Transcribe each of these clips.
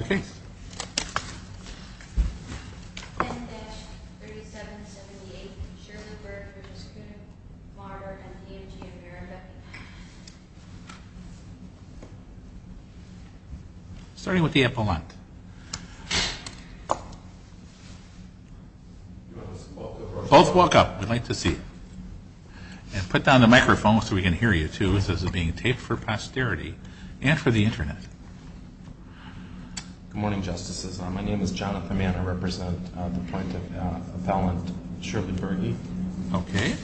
10-3778 Shirley Berg v. Kuhn & Marder v. E&G America Starting with the epilogue. Both walk up. We'd like to see it. And put down the microphone so we can hear you too. This is being taped for posterity and for the Internet. Good morning, Justices. My name is Jonathan Mann. I represent the Appellant Shirley Berge. Okay.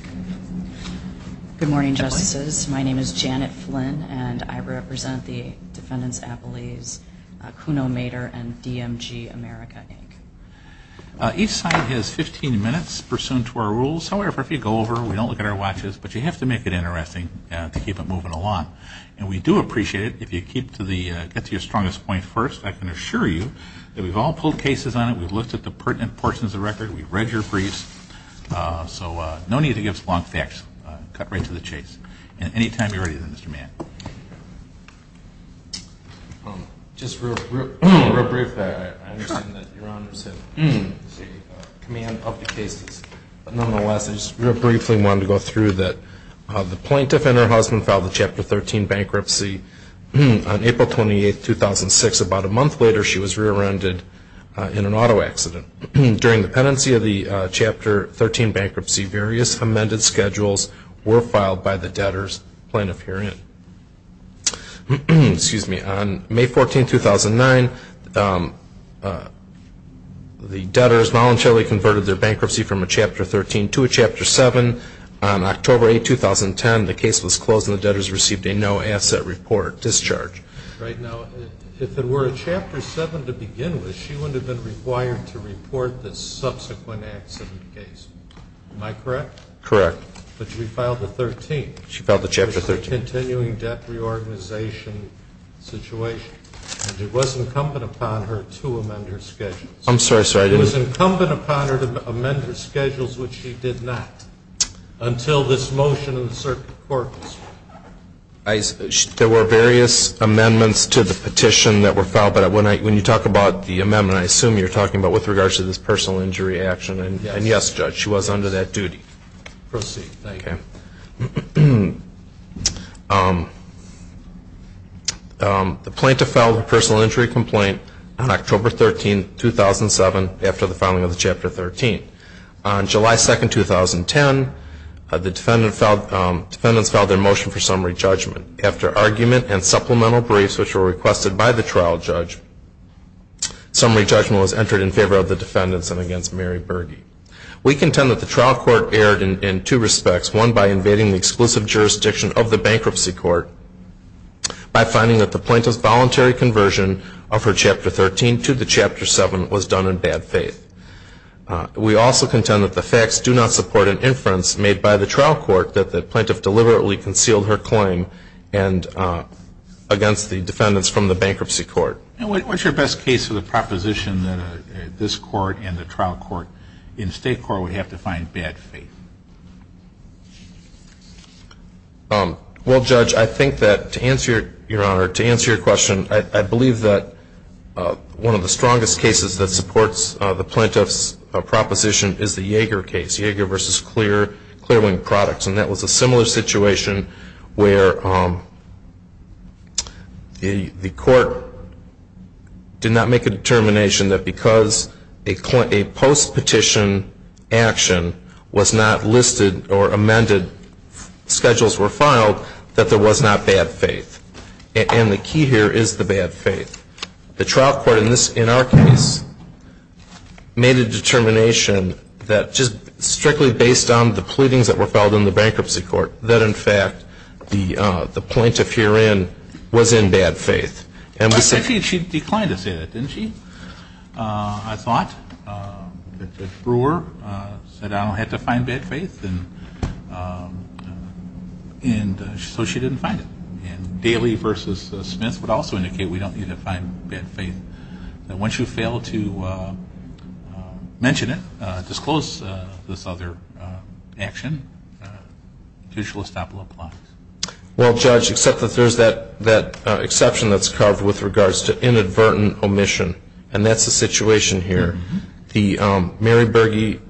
Good morning, Justices. My name is Janet Flynn, and I represent the Defendants Appellees Kuhn & Mader and E&G America, Inc. Each side has 15 minutes pursuant to our rules. However, if you go over, we don't look at our watches. But you have to make it interesting to keep it moving along. And we do appreciate it if you get to your strongest point first. I can assure you that we've all pulled cases on it. We've looked at the pertinent portions of the record. We've read your briefs. So no need to give us long facts. Cut right to the chase. And anytime you're ready then, Mr. Mann. Just real briefly, I understand that Your Honors have the command of the cases. Nonetheless, I just real briefly wanted to go through that the plaintiff and her husband filed the Chapter 13 bankruptcy on April 28, 2006. About a month later, she was rear-ended in an auto accident. During the pendency of the Chapter 13 bankruptcy, various amended schedules were filed by the debtors. On May 14, 2009, the debtors voluntarily converted their bankruptcy from a Chapter 13 to a Chapter 7. On October 8, 2010, the case was closed and the debtors received a no-asset report discharge. Right now, if it were a Chapter 7 to begin with, she wouldn't have been required to report the subsequent accident case. Am I correct? Correct. But she filed the 13th. She filed the Chapter 13. It was a continuing debt reorganization situation. And it was incumbent upon her to amend her schedules. I'm sorry, sir. I didn't It was incumbent upon her to amend her schedules, which she did not until this motion in the Circuit Court was filed. There were various amendments to the petition that were filed. But when you talk about the amendment, I assume you're talking about with regards to this personal injury action. And yes, Judge, she was under that duty. Proceed. The plaintiff filed a personal injury complaint on October 13, 2007, after the filing of the Chapter 13. On July 2, 2010, the defendants filed their motion for summary judgment. After argument and supplemental briefs, which were requested by the trial judge, summary judgment was entered in favor of the defendants and against Mary Berge. We contend that the trial court erred in two respects, one by invading the exclusive jurisdiction of the bankruptcy court by finding that the plaintiff's voluntary conversion of her Chapter 13 to the Chapter 7 was done in bad faith. We also contend that the facts do not support an inference made by the trial court that the plaintiff deliberately concealed her claim against the defendants from the bankruptcy court. And what's your best case for the proposition that this court and the trial court in state court would have to find bad faith? Well, Judge, I think that to answer your question, I believe that one of the strongest cases that supports the plaintiff's proposition is the Yeager case, Yeager v. Clearwind Products. And that was a similar situation where the court did not make a determination that because a post-petition action was not listed or amended, schedules were filed, that there was not bad faith. And the key here is the bad faith. The trial court in our case made a determination that just strictly based on the pleadings that were filed in the bankruptcy court, that in fact the plaintiff herein was in bad faith. I think she declined to say that, didn't she? I thought that Brewer said I don't have to find bad faith, and so she didn't find it. And Daly v. Smith would also indicate we don't need to find bad faith. Once you fail to mention it, disclose this other action, judicial estoppel applies. Well, Judge, except that there's that exception that's carved with regards to inadvertent omission, and that's the situation here. Mary Berge,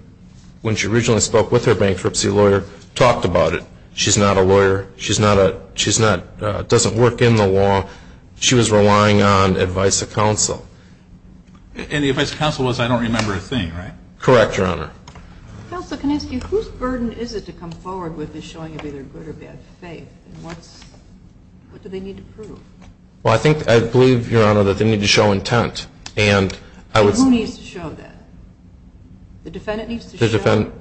when she originally spoke with her bankruptcy lawyer, talked about it. She's not a lawyer. She doesn't work in the law. She was relying on advice of counsel. And the advice of counsel was I don't remember a thing, right? Correct, Your Honor. Counsel, can I ask you, whose burden is it to come forward with the showing of either good or bad faith, and what do they need to prove? Well, I believe, Your Honor, that they need to show intent. Who needs to show that? The defendant needs to show that?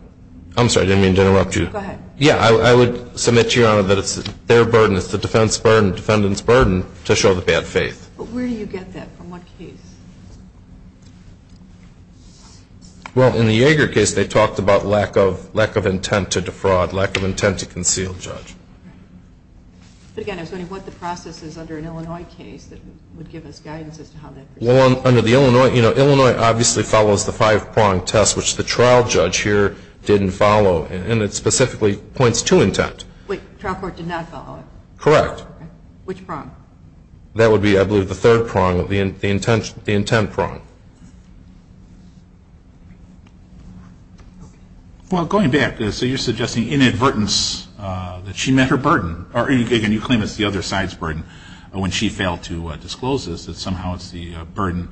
I'm sorry. I didn't mean to interrupt you. Go ahead. Yeah, I would submit to Your Honor that it's their burden. It's the defendant's burden to show the bad faith. But where do you get that? From what case? Well, in the Yeager case, they talked about lack of intent to defraud, lack of intent to conceal, Judge. But again, I was wondering what the process is under an Illinois case that would give us guidance as to how to proceed. Well, under the Illinois, you know, Illinois obviously follows the five-prong test, which the trial judge here didn't follow, and it specifically points to intent. Wait, the trial court did not follow it? Correct. Which prong? That would be, I believe, the third prong of the intent prong. Well, going back, so you're suggesting inadvertence that she met her burden, or you claim it's the other side's burden when she failed to disclose this, that somehow it's the burden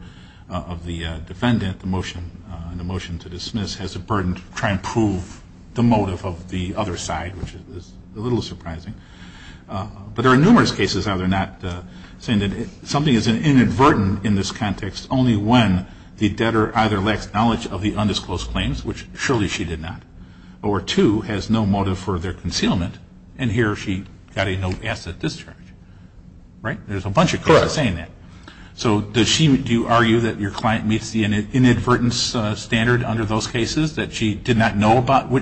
of the defendant, the motion to dismiss, has the burden to try and prove the motive of the other side, which is a little surprising. But there are numerous cases out there not saying that something is inadvertent in this context only when the debtor either lacks knowledge of the undisclosed claims, which surely she did not, or two, has no motive for their concealment, and here she got a no asset discharge. Right? There's a bunch of cases saying that. Correct. So do you argue that your client meets the inadvertence standard under those cases, that she did not know about her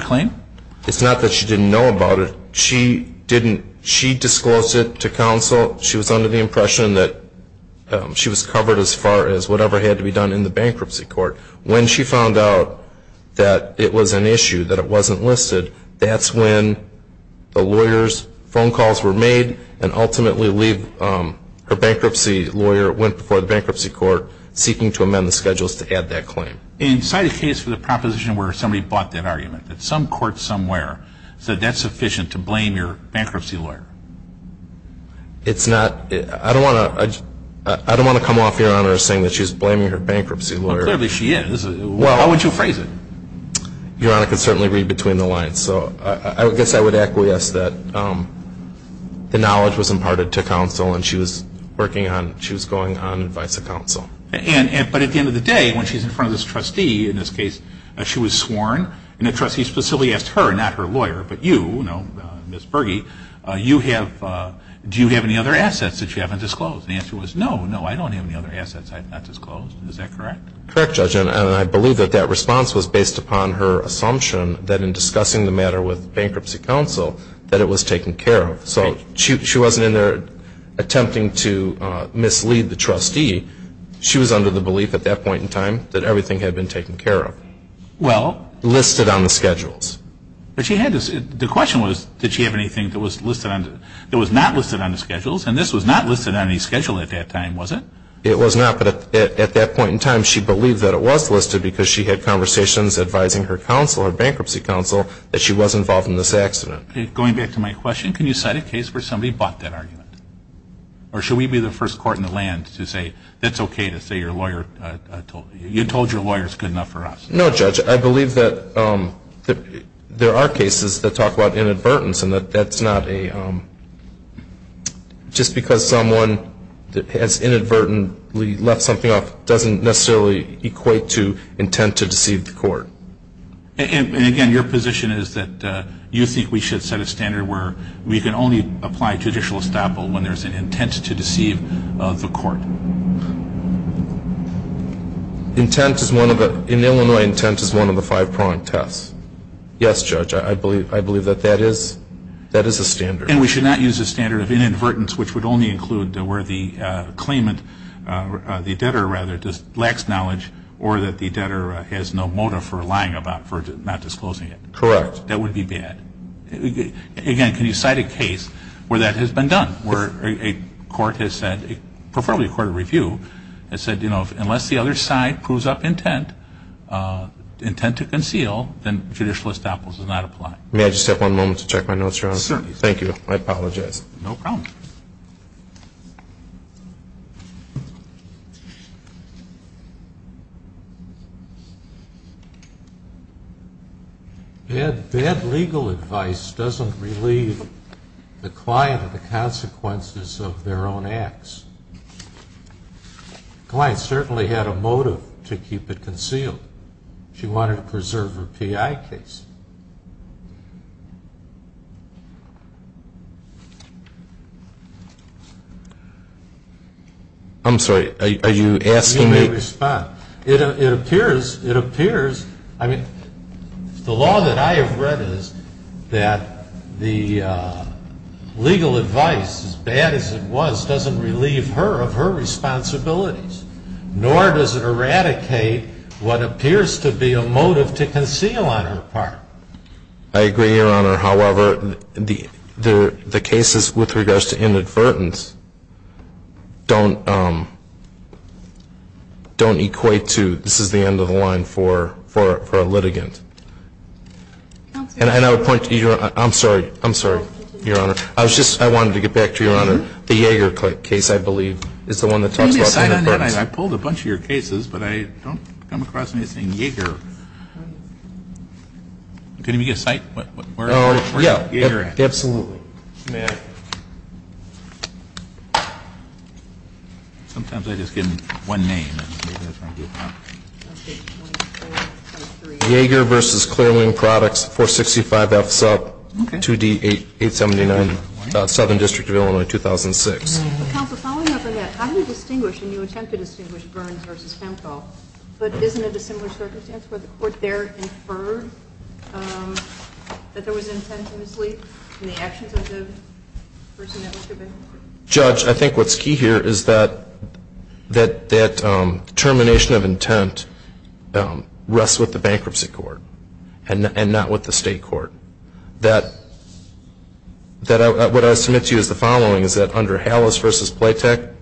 claim? It's not that she didn't know about it. She disclosed it to counsel. She was under the impression that she was covered as far as whatever had to be done in the bankruptcy court. When she found out that it was an issue, that it wasn't listed, that's when the lawyer's phone calls were made, and ultimately her bankruptcy lawyer went before the bankruptcy court seeking to amend the schedules to add that claim. And cite a case for the proposition where somebody bought that argument, that some court somewhere said that's sufficient to blame your bankruptcy lawyer. I don't want to come off Your Honor as saying that she's blaming her bankruptcy lawyer. Well, clearly she is. Why would you phrase it? Your Honor can certainly read between the lines. So I guess I would acquiesce that the knowledge was imparted to counsel, and she was going on advice of counsel. But at the end of the day, when she's in front of this trustee, in this case she was sworn, and the trustee specifically asked her, not her lawyer, but you, Ms. Bergey, do you have any other assets that you haven't disclosed? The answer was no, no, I don't have any other assets I've not disclosed. Is that correct? Correct, Judge. And I believe that that response was based upon her assumption that in discussing the matter with bankruptcy counsel that it was taken care of. So she wasn't in there attempting to mislead the trustee. She was under the belief at that point in time that everything had been taken care of. Well. Listed on the schedules. But she had this. The question was did she have anything that was not listed on the schedules, and this was not listed on any schedule at that time, was it? It was not. But at that point in time, she believed that it was listed because she had conversations advising her counsel, her bankruptcy counsel, that she was involved in this accident. Going back to my question, can you cite a case where somebody bought that argument? Or should we be the first court in the land to say that's okay to say your lawyer, you told your lawyer it's good enough for us? No, Judge. I believe that there are cases that talk about inadvertence, and that's not a just because someone has inadvertently left something off doesn't necessarily equate to intent to deceive the court. And, again, your position is that you think we should set a standard where we can only apply judicial estoppel when there's an intent to deceive the court. In Illinois, intent is one of the five pronged tests. Yes, Judge. I believe that that is a standard. And we should not use a standard of inadvertence, which would only include where the claimant, the debtor, rather, just lacks knowledge or that the debtor has no motive for lying about, for not disclosing it. Correct. That would be bad. Again, can you cite a case where that has been done, where a court has said, preferably a court of review, has said, you know, May I just have one moment to check my notes, Your Honor? Certainly. Thank you. I apologize. No problem. Bad legal advice doesn't relieve the client of the consequences of their own acts. The client certainly had a motive to keep it concealed. She wanted to preserve her PI case. I'm sorry. Are you asking me? You may respond. It appears, I mean, the law that I have read is that the legal advice, as bad as it was, doesn't relieve her of her responsibilities, nor does it eradicate what appears to be a motive to conceal on her part. I agree, Your Honor. However, the cases with regards to inadvertence don't equate to, this is the end of the line for a litigant. And I would point to your, I'm sorry, I'm sorry, Your Honor. I wanted to get back to your Honor. The Yeager case, I believe, is the one that talks about inadvertence. I pulled a bunch of your cases, but I don't come across anything Yeager. Can you give me a site? Oh, yeah, absolutely. Sometimes I just get one name. Yeager v. Clear Wing Products, 465F Sup, 2D879, Southern District of Illinois, 2006. Counsel, following up on that, how do you distinguish, and you attempt to distinguish Burns v. Hemphill, but isn't it a similar circumstance where the court there inferred that there was intent to mislead in the actions of the person that was convicted? Judge, I think what's key here is that determination of intent rests with the bankruptcy court and not with the state court. That what I submit to you is the following, is that under Hallis v. Playtech,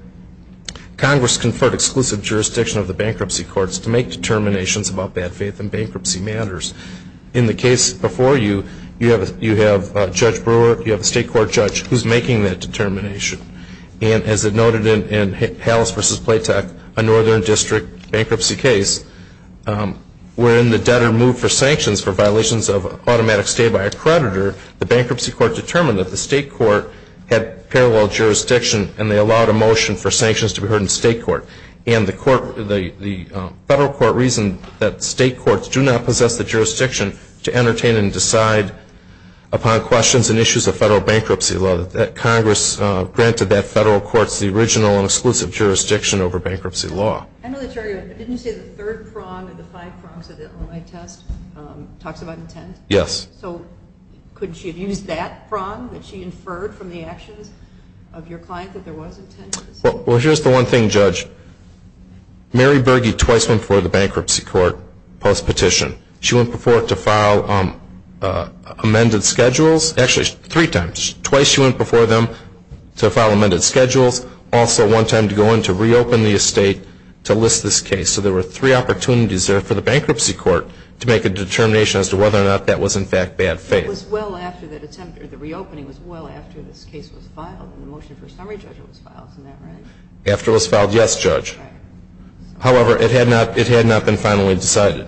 Congress conferred exclusive jurisdiction of the bankruptcy courts to make determinations about bad faith and bankruptcy matters. In the case before you, you have Judge Brewer, you have a state court judge, who's making that determination. And as it noted in Hallis v. Playtech, a Northern District bankruptcy case, where in the debtor moved for sanctions for violations of automatic stay by a creditor, the bankruptcy court determined that the state court had parallel jurisdiction and they allowed a motion for sanctions to be heard in state court. And the federal court reasoned that state courts do not possess the jurisdiction to entertain and decide upon questions and issues of federal bankruptcy law. Congress granted that federal court the original and exclusive jurisdiction over bankruptcy law. Didn't you say the third prong of the five prongs of the Illinois test talks about intent? Yes. So couldn't she have used that prong that she inferred from the actions of your client that there was intent? Well, here's the one thing, Judge. Mary Berge twice went before the bankruptcy court post-petition. She went before it to file amended schedules. Actually, three times. Twice she went before them to file amended schedules. Also one time to go in to reopen the estate to list this case. So there were three opportunities there for the bankruptcy court to make a determination as to whether or not that was, in fact, bad faith. It was well after that attempt or the reopening was well after this case was filed and the motion for a summary judgment was filed. Isn't that right? After it was filed, yes, Judge. However, it had not been finally decided.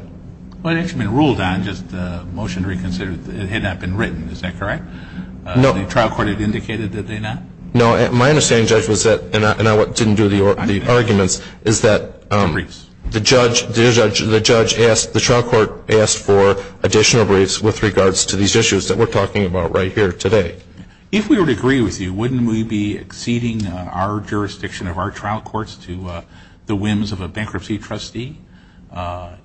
Well, it had actually been ruled on, just the motion reconsidered, that it had not been written. Is that correct? No. The trial court had indicated, did they not? No. My understanding, Judge, was that, and I didn't do the arguments, is that the trial court asked for additional briefs with regards to these issues that we're talking about right here today. If we were to agree with you, wouldn't we be exceeding our jurisdiction of our trial courts to the whims of a bankruptcy trustee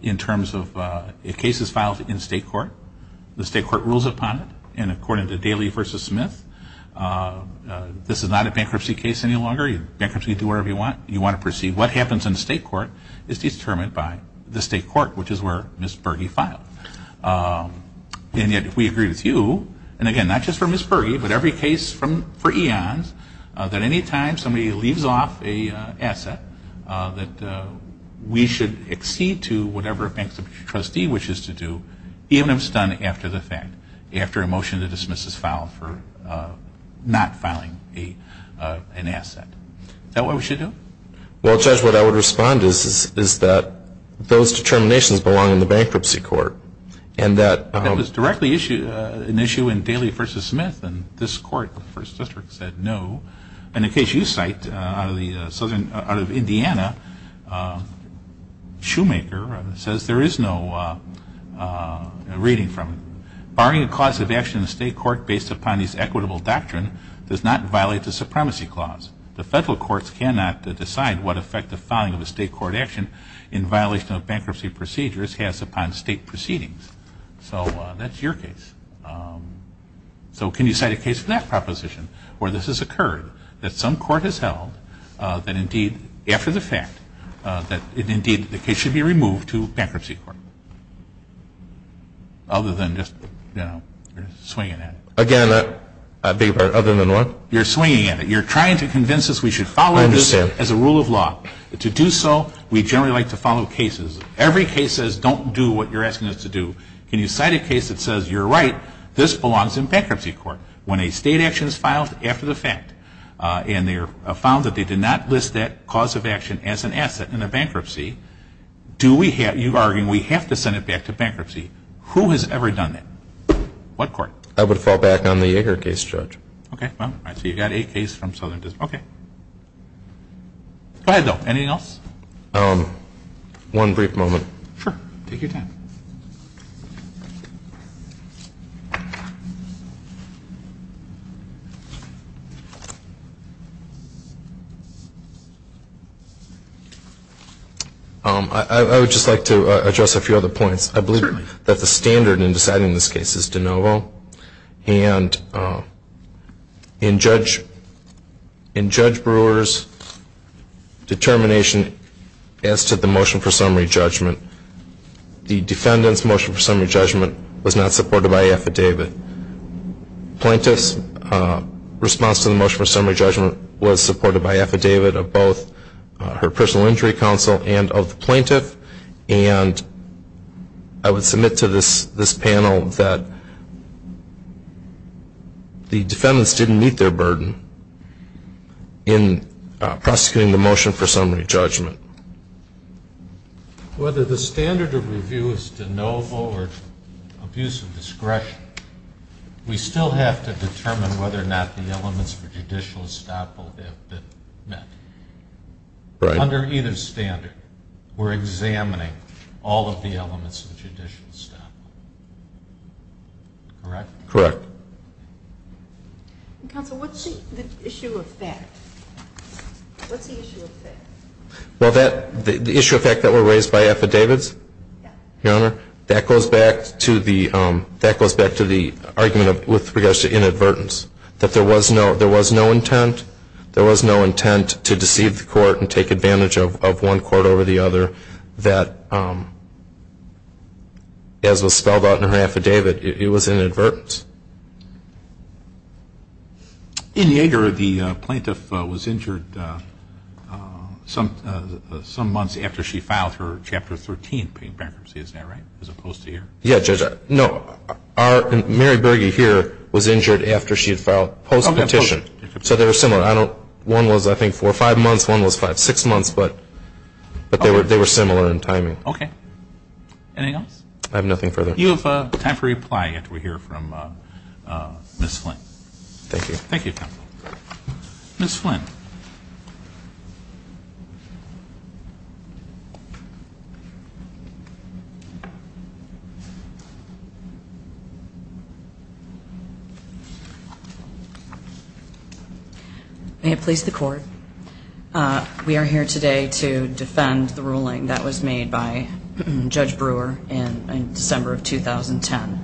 in terms of a case is filed in state court, the state court rules upon it, and according to Daley v. Smith, this is not a bankruptcy case any longer. Bankruptcy, you do whatever you want. You want to proceed. What happens in state court is determined by the state court, which is where Ms. Berge filed. And yet, if we agree with you, and again, not just for Ms. Berge, but every case for eons, that any time somebody leaves off an asset, that we should exceed to whatever a bankruptcy trustee wishes to do, even if it's done after the fact, after a motion to dismiss is filed for not filing an asset. Is that what we should do? Well, Judge, what I would respond to is that those determinations belong in the bankruptcy court. That was directly an issue in Daley v. Smith, and this court, the First District, said no. In the case you cite, out of Indiana, Shoemaker says there is no reading from it. Barring a cause of action in the state court based upon this equitable doctrine does not violate the supremacy clause. The federal courts cannot decide what effect the filing of a state court action in violation of bankruptcy procedures has upon state proceedings. So that's your case. So can you cite a case for that proposition, where this has occurred, that some court has held, that indeed, after the fact, that indeed the case should be removed to bankruptcy court? Other than just, you know, swinging at it. Again, I beg your pardon, other than what? You're swinging at it. You're trying to convince us we should follow this as a rule of law. To do so, we generally like to follow cases. Every case says don't do what you're asking us to do. Can you cite a case that says, you're right, this belongs in bankruptcy court, when a state action is filed after the fact, and they found that they did not list that cause of action as an asset in a bankruptcy, do we have, you're arguing we have to send it back to bankruptcy. Who has ever done that? What court? I would fall back on the Yeager case, Judge. Okay. So you've got a case from Southern District. Okay. Go ahead, though. Anything else? One brief moment. Sure. Take your time. I would just like to address a few other points. Certainly. I believe that the standard in deciding this case is de novo, and in Judge Brewer's determination as to the motion for summary judgment, the defendant's motion for summary judgment was not supported by affidavit. Plaintiff's response to the motion for summary judgment was supported by affidavit of both her personal injury counsel and of the plaintiff, and I would submit to this panel that the defendants didn't meet their burden in prosecuting the motion for summary judgment. Whether the standard of review is de novo or abuse of discretion, we still have to determine whether or not the elements for judicial estoppel have been met. Right. Under either standard, we're examining all of the elements of judicial estoppel. Correct? Correct. Counsel, what's the issue of fact? What's the issue of fact? Well, the issue of fact that were raised by affidavits, Your Honor, that goes back to the argument with regards to inadvertence, that there was no intent. There was no intent to deceive the court and take advantage of one court over the other, that as was spelled out in her affidavit, it was an inadvertence. In Yeager, the plaintiff was injured some months after she filed her Chapter 13 bankruptcy, isn't that right, as opposed to here? Yeah, Judge. No, Mary Berge here was injured after she had filed, post-petition. So they were similar. One was, I think, four or five months, one was five, six months, but they were similar in timing. Okay. Anything else? I have nothing further. You have time for reply after we hear from Ms. Flynn. Thank you. Thank you, counsel. Ms. Flynn. May it please the court. We are here today to defend the ruling that was made by Judge Brewer in December of 2010.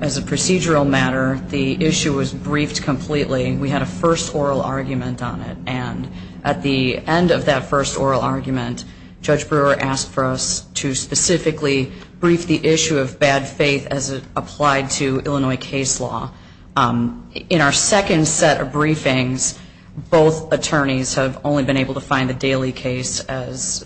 As a procedural matter, the issue was briefed completely. We had a first oral argument on it. And at the end of that first oral argument, Judge Brewer asked for us to specifically brief the issue of bad faith as it applied to Illinois case law. In our second set of briefings, both attorneys have only been able to find the Daly case as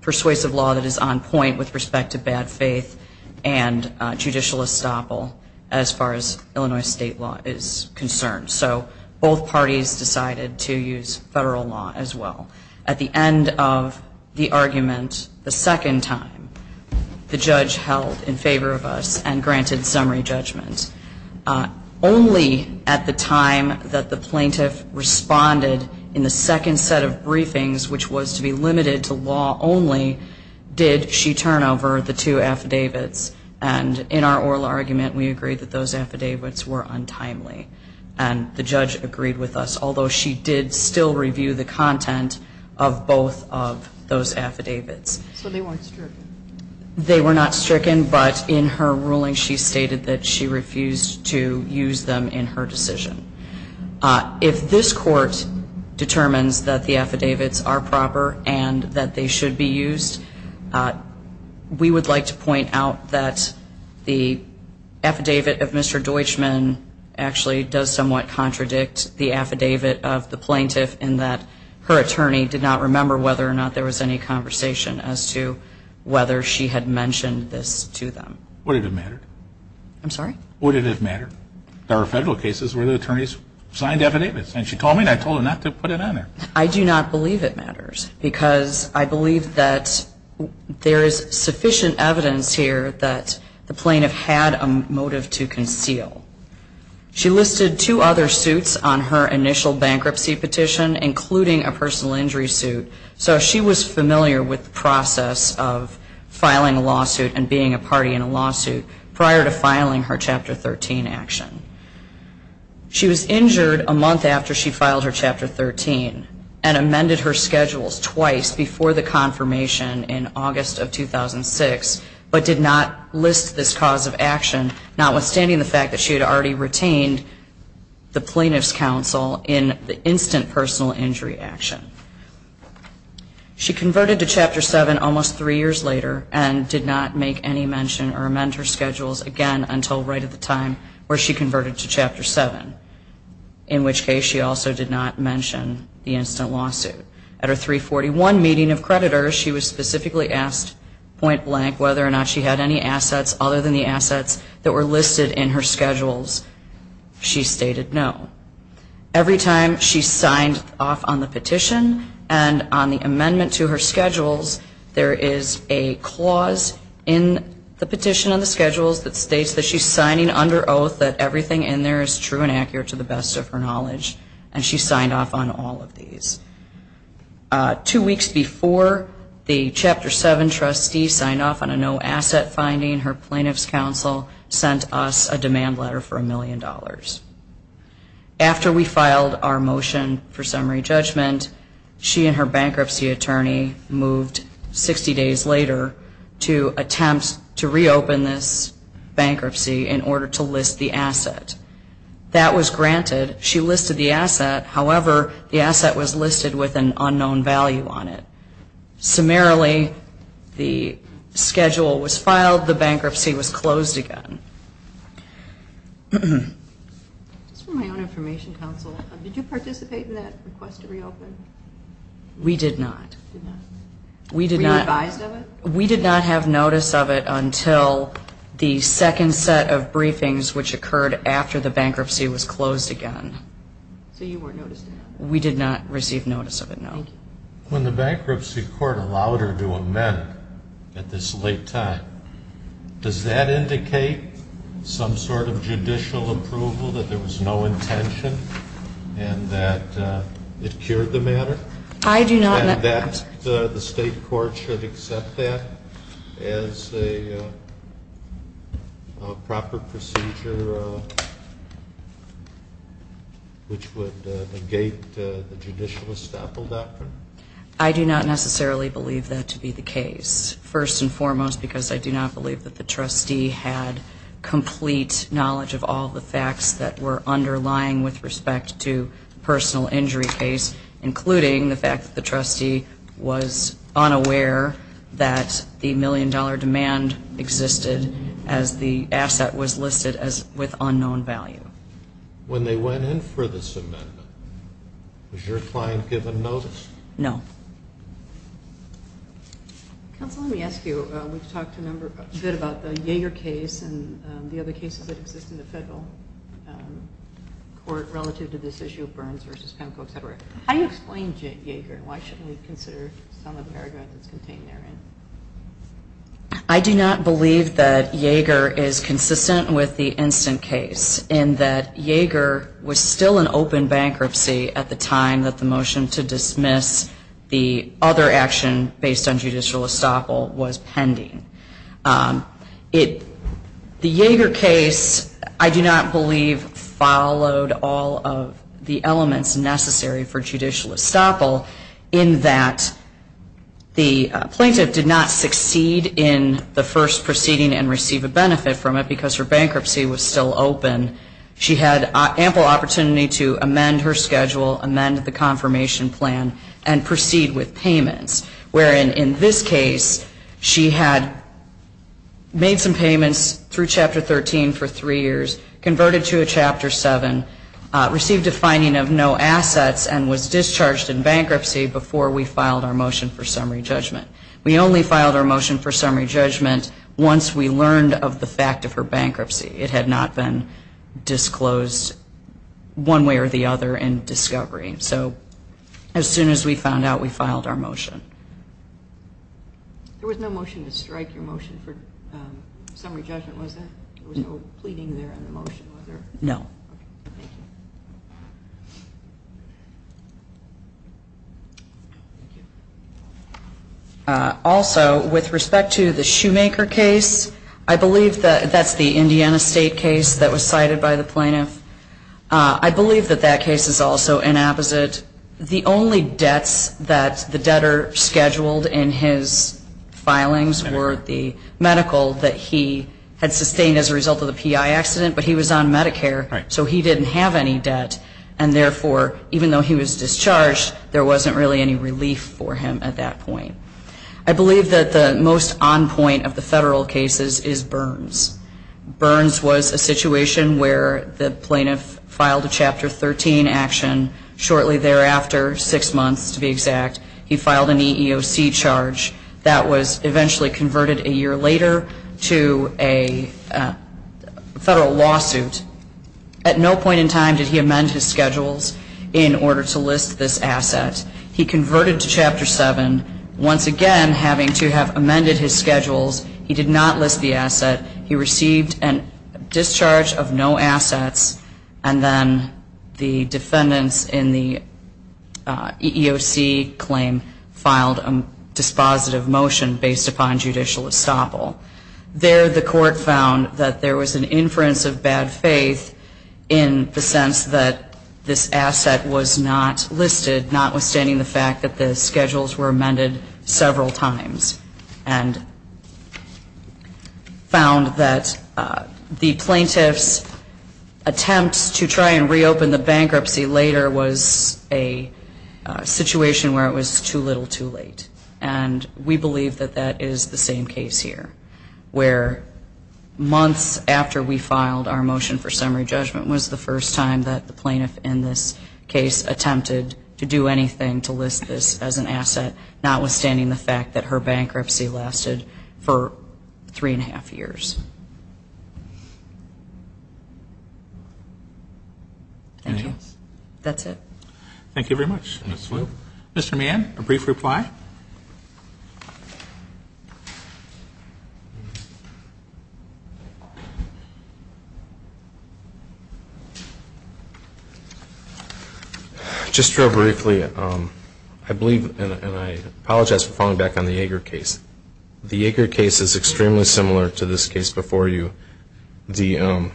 persuasive law that is on point with respect to bad faith and judicial estoppel as far as Illinois state law is concerned. So both parties decided to use federal law as well. At the end of the argument, the second time, the judge held in favor of us and granted summary judgment. Only at the time that the plaintiff responded in the second set of briefings, which was to be limited to law only, did she turn over the two affidavits. And in our oral argument, we agreed that those affidavits were untimely. And the judge agreed with us, although she did still review the content of both of those affidavits. So they weren't stricken? They were not stricken. But in her ruling, she stated that she refused to use them in her decision. If this court determines that the affidavits are proper and that they should be used, we would like to point out that the affidavit of Mr. Deutschman actually does somewhat contradict the affidavit of the plaintiff in that her attorney did not remember whether or not there was any conversation as to whether she had mentioned this to them. Would it have mattered? I'm sorry? Would it have mattered? There are federal cases where the attorneys signed affidavits. And she called me, and I told her not to put it on there. I do not believe it matters because I believe that there is sufficient evidence here that the plaintiff had a motive to conceal. She listed two other suits on her initial bankruptcy petition, including a personal injury suit. So she was familiar with the process of filing a lawsuit and being a party in a lawsuit prior to filing her Chapter 13 action. She was injured a month after she filed her Chapter 13 and amended her schedules twice before the confirmation in August of 2006, but did not list this cause of action, notwithstanding the fact that she had already retained the plaintiff's counsel in the instant personal injury action. She converted to Chapter 7 almost three years later and did not make any mention or amend her schedules again until right at the time where she converted to Chapter 7, in which case she also did not mention the instant lawsuit. At her 341 meeting of creditors, she was specifically asked point blank whether or not she had any assets other than the assets that were listed in her schedules. She stated no. Every time she signed off on the petition and on the amendment to her schedules, there is a clause in the petition on the schedules that states that she's signing under oath that everything in there is true and accurate to the best of her knowledge, and she signed off on all of these. Two weeks before the Chapter 7 trustee signed off on a no asset finding, her plaintiff's counsel sent us a demand letter for a million dollars. After we filed our motion for summary judgment, she and her bankruptcy attorney moved 60 days later to attempt to reopen this bankruptcy in order to list the asset. That was granted. She listed the asset. However, the asset was listed with an unknown value on it. Summarily, the schedule was filed. The bankruptcy was closed again. Just for my own information, counsel, did you participate in that request to reopen? We did not. Were you advised of it? We did not have notice of it until the second set of briefings, which occurred after the bankruptcy was closed again. So you weren't noticed of it? We did not receive notice of it, no. When the bankruptcy court allowed her to amend at this late time, does that indicate some sort of judicial approval that there was no intention and that it cured the matter? I do not. And that the state court should accept that as a proper procedure which would negate the judicial estoppel doctrine? I do not necessarily believe that to be the case, first and foremost, because I do not believe that the trustee had complete knowledge of all the facts that were underlying with respect to the personal injury case, including the fact that the trustee was unaware that the million-dollar demand existed as the asset was listed with unknown value. When they went in for this amendment, was your client given notice? No. Counsel, let me ask you, we've talked a bit about the Yeager case and the other cases that exist in the federal court relative to this issue of Burns v. Penco, et cetera. How do you explain Yeager, and why shouldn't we consider some of the paragraph that's contained therein? I do not believe that Yeager is consistent with the instant case, in that Yeager was still in open bankruptcy at the time that the motion to dismiss the other action based on judicial estoppel was pending. The Yeager case, I do not believe, followed all of the elements necessary for judicial estoppel, in that the plaintiff did not succeed in the first proceeding and receive a benefit from it because her bankruptcy was still open. She had ample opportunity to amend her schedule, amend the confirmation plan, and proceed with payments, wherein in this case she had made some payments through Chapter 13 for three years, converted to a Chapter 7, received a fining of no assets, and was discharged in bankruptcy before we filed our motion for summary judgment. We only filed our motion for summary judgment once we learned of the fact of her bankruptcy. It had not been disclosed one way or the other in discovery. So as soon as we found out, we filed our motion. There was no motion to strike your motion for summary judgment, was there? There was no pleading there in the motion, was there? No. Thank you. Also, with respect to the Shoemaker case, I believe that that's the Indiana State case that was cited by the plaintiff. I believe that that case is also inapposite. The only debts that the debtor scheduled in his filings were the medical that he had sustained as a result of the PI accident, but he was on Medicare, so he didn't have any debt. And therefore, even though he was discharged, there wasn't really any relief for him at that point. I believe that the most on point of the federal cases is Burns. Burns was a situation where the plaintiff filed a Chapter 13 action shortly thereafter, six months to be exact. He filed an EEOC charge. That was eventually converted a year later to a federal lawsuit. At no point in time did he amend his schedules in order to list this asset. He converted to Chapter 7, once again having to have amended his schedules. He did not list the asset. He received a discharge of no assets, and then the defendants in the EEOC claim filed a dispositive motion based upon judicial estoppel. There, the court found that there was an inference of bad faith in the sense that this asset was not listed, notwithstanding the fact that the schedules were amended several times, and found that the plaintiff's attempt to try and reopen the bankruptcy later was a situation where it was too little too late. And we believe that that is the same case here, where months after we filed our motion for summary judgment was the first time that the plaintiff in this case attempted to do anything to list this as an asset, notwithstanding the fact that her bankruptcy lasted for three and a half years. Thank you. That's it. Thank you very much. Mr. Mann, a brief reply? Just real briefly, I believe, and I apologize for falling back on the Yeager case. The Yeager case is extremely similar to this case before you. The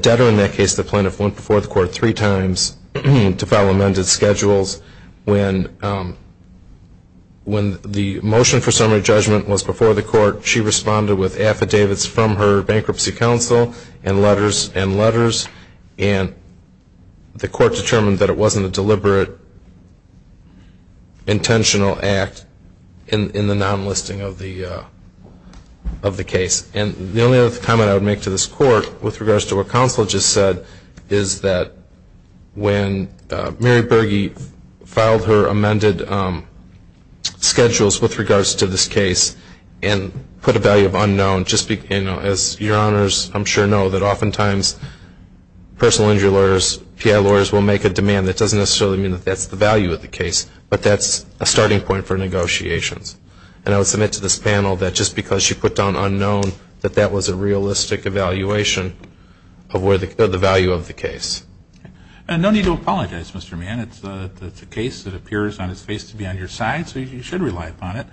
debtor in that case, the plaintiff, went before the court three times to file amended schedules. When the motion for summary judgment was before the court, she responded with affidavits from her bankruptcy counsel and letters and letters, and the court determined that it wasn't a deliberate, intentional act in the non-listing of the case. And the only other comment I would make to this court, with regards to what counsel just said, is that when Mary Berge filed her amended schedules with regards to this case and put a value of unknown, as your honors I'm sure know that oftentimes personal injury lawyers, PI lawyers will make a demand that doesn't necessarily mean that that's the value of the case, but that's a starting point for negotiations. And I would submit to this panel that just because she put down unknown, that that was a realistic evaluation of the value of the case. And no need to apologize, Mr. Mann. It's a case that appears on its face to be on your side, so you should rely upon it.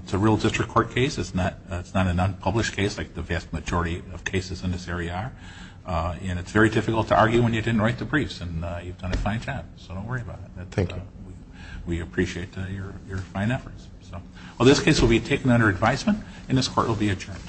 It's a real district court case. It's not an unpublished case like the vast majority of cases in this area are. And it's very difficult to argue when you didn't write the briefs, and you've done a fine job, so don't worry about it. Thank you. We appreciate your fine efforts. Well, this case will be taken under advisement, and this court will be adjourned.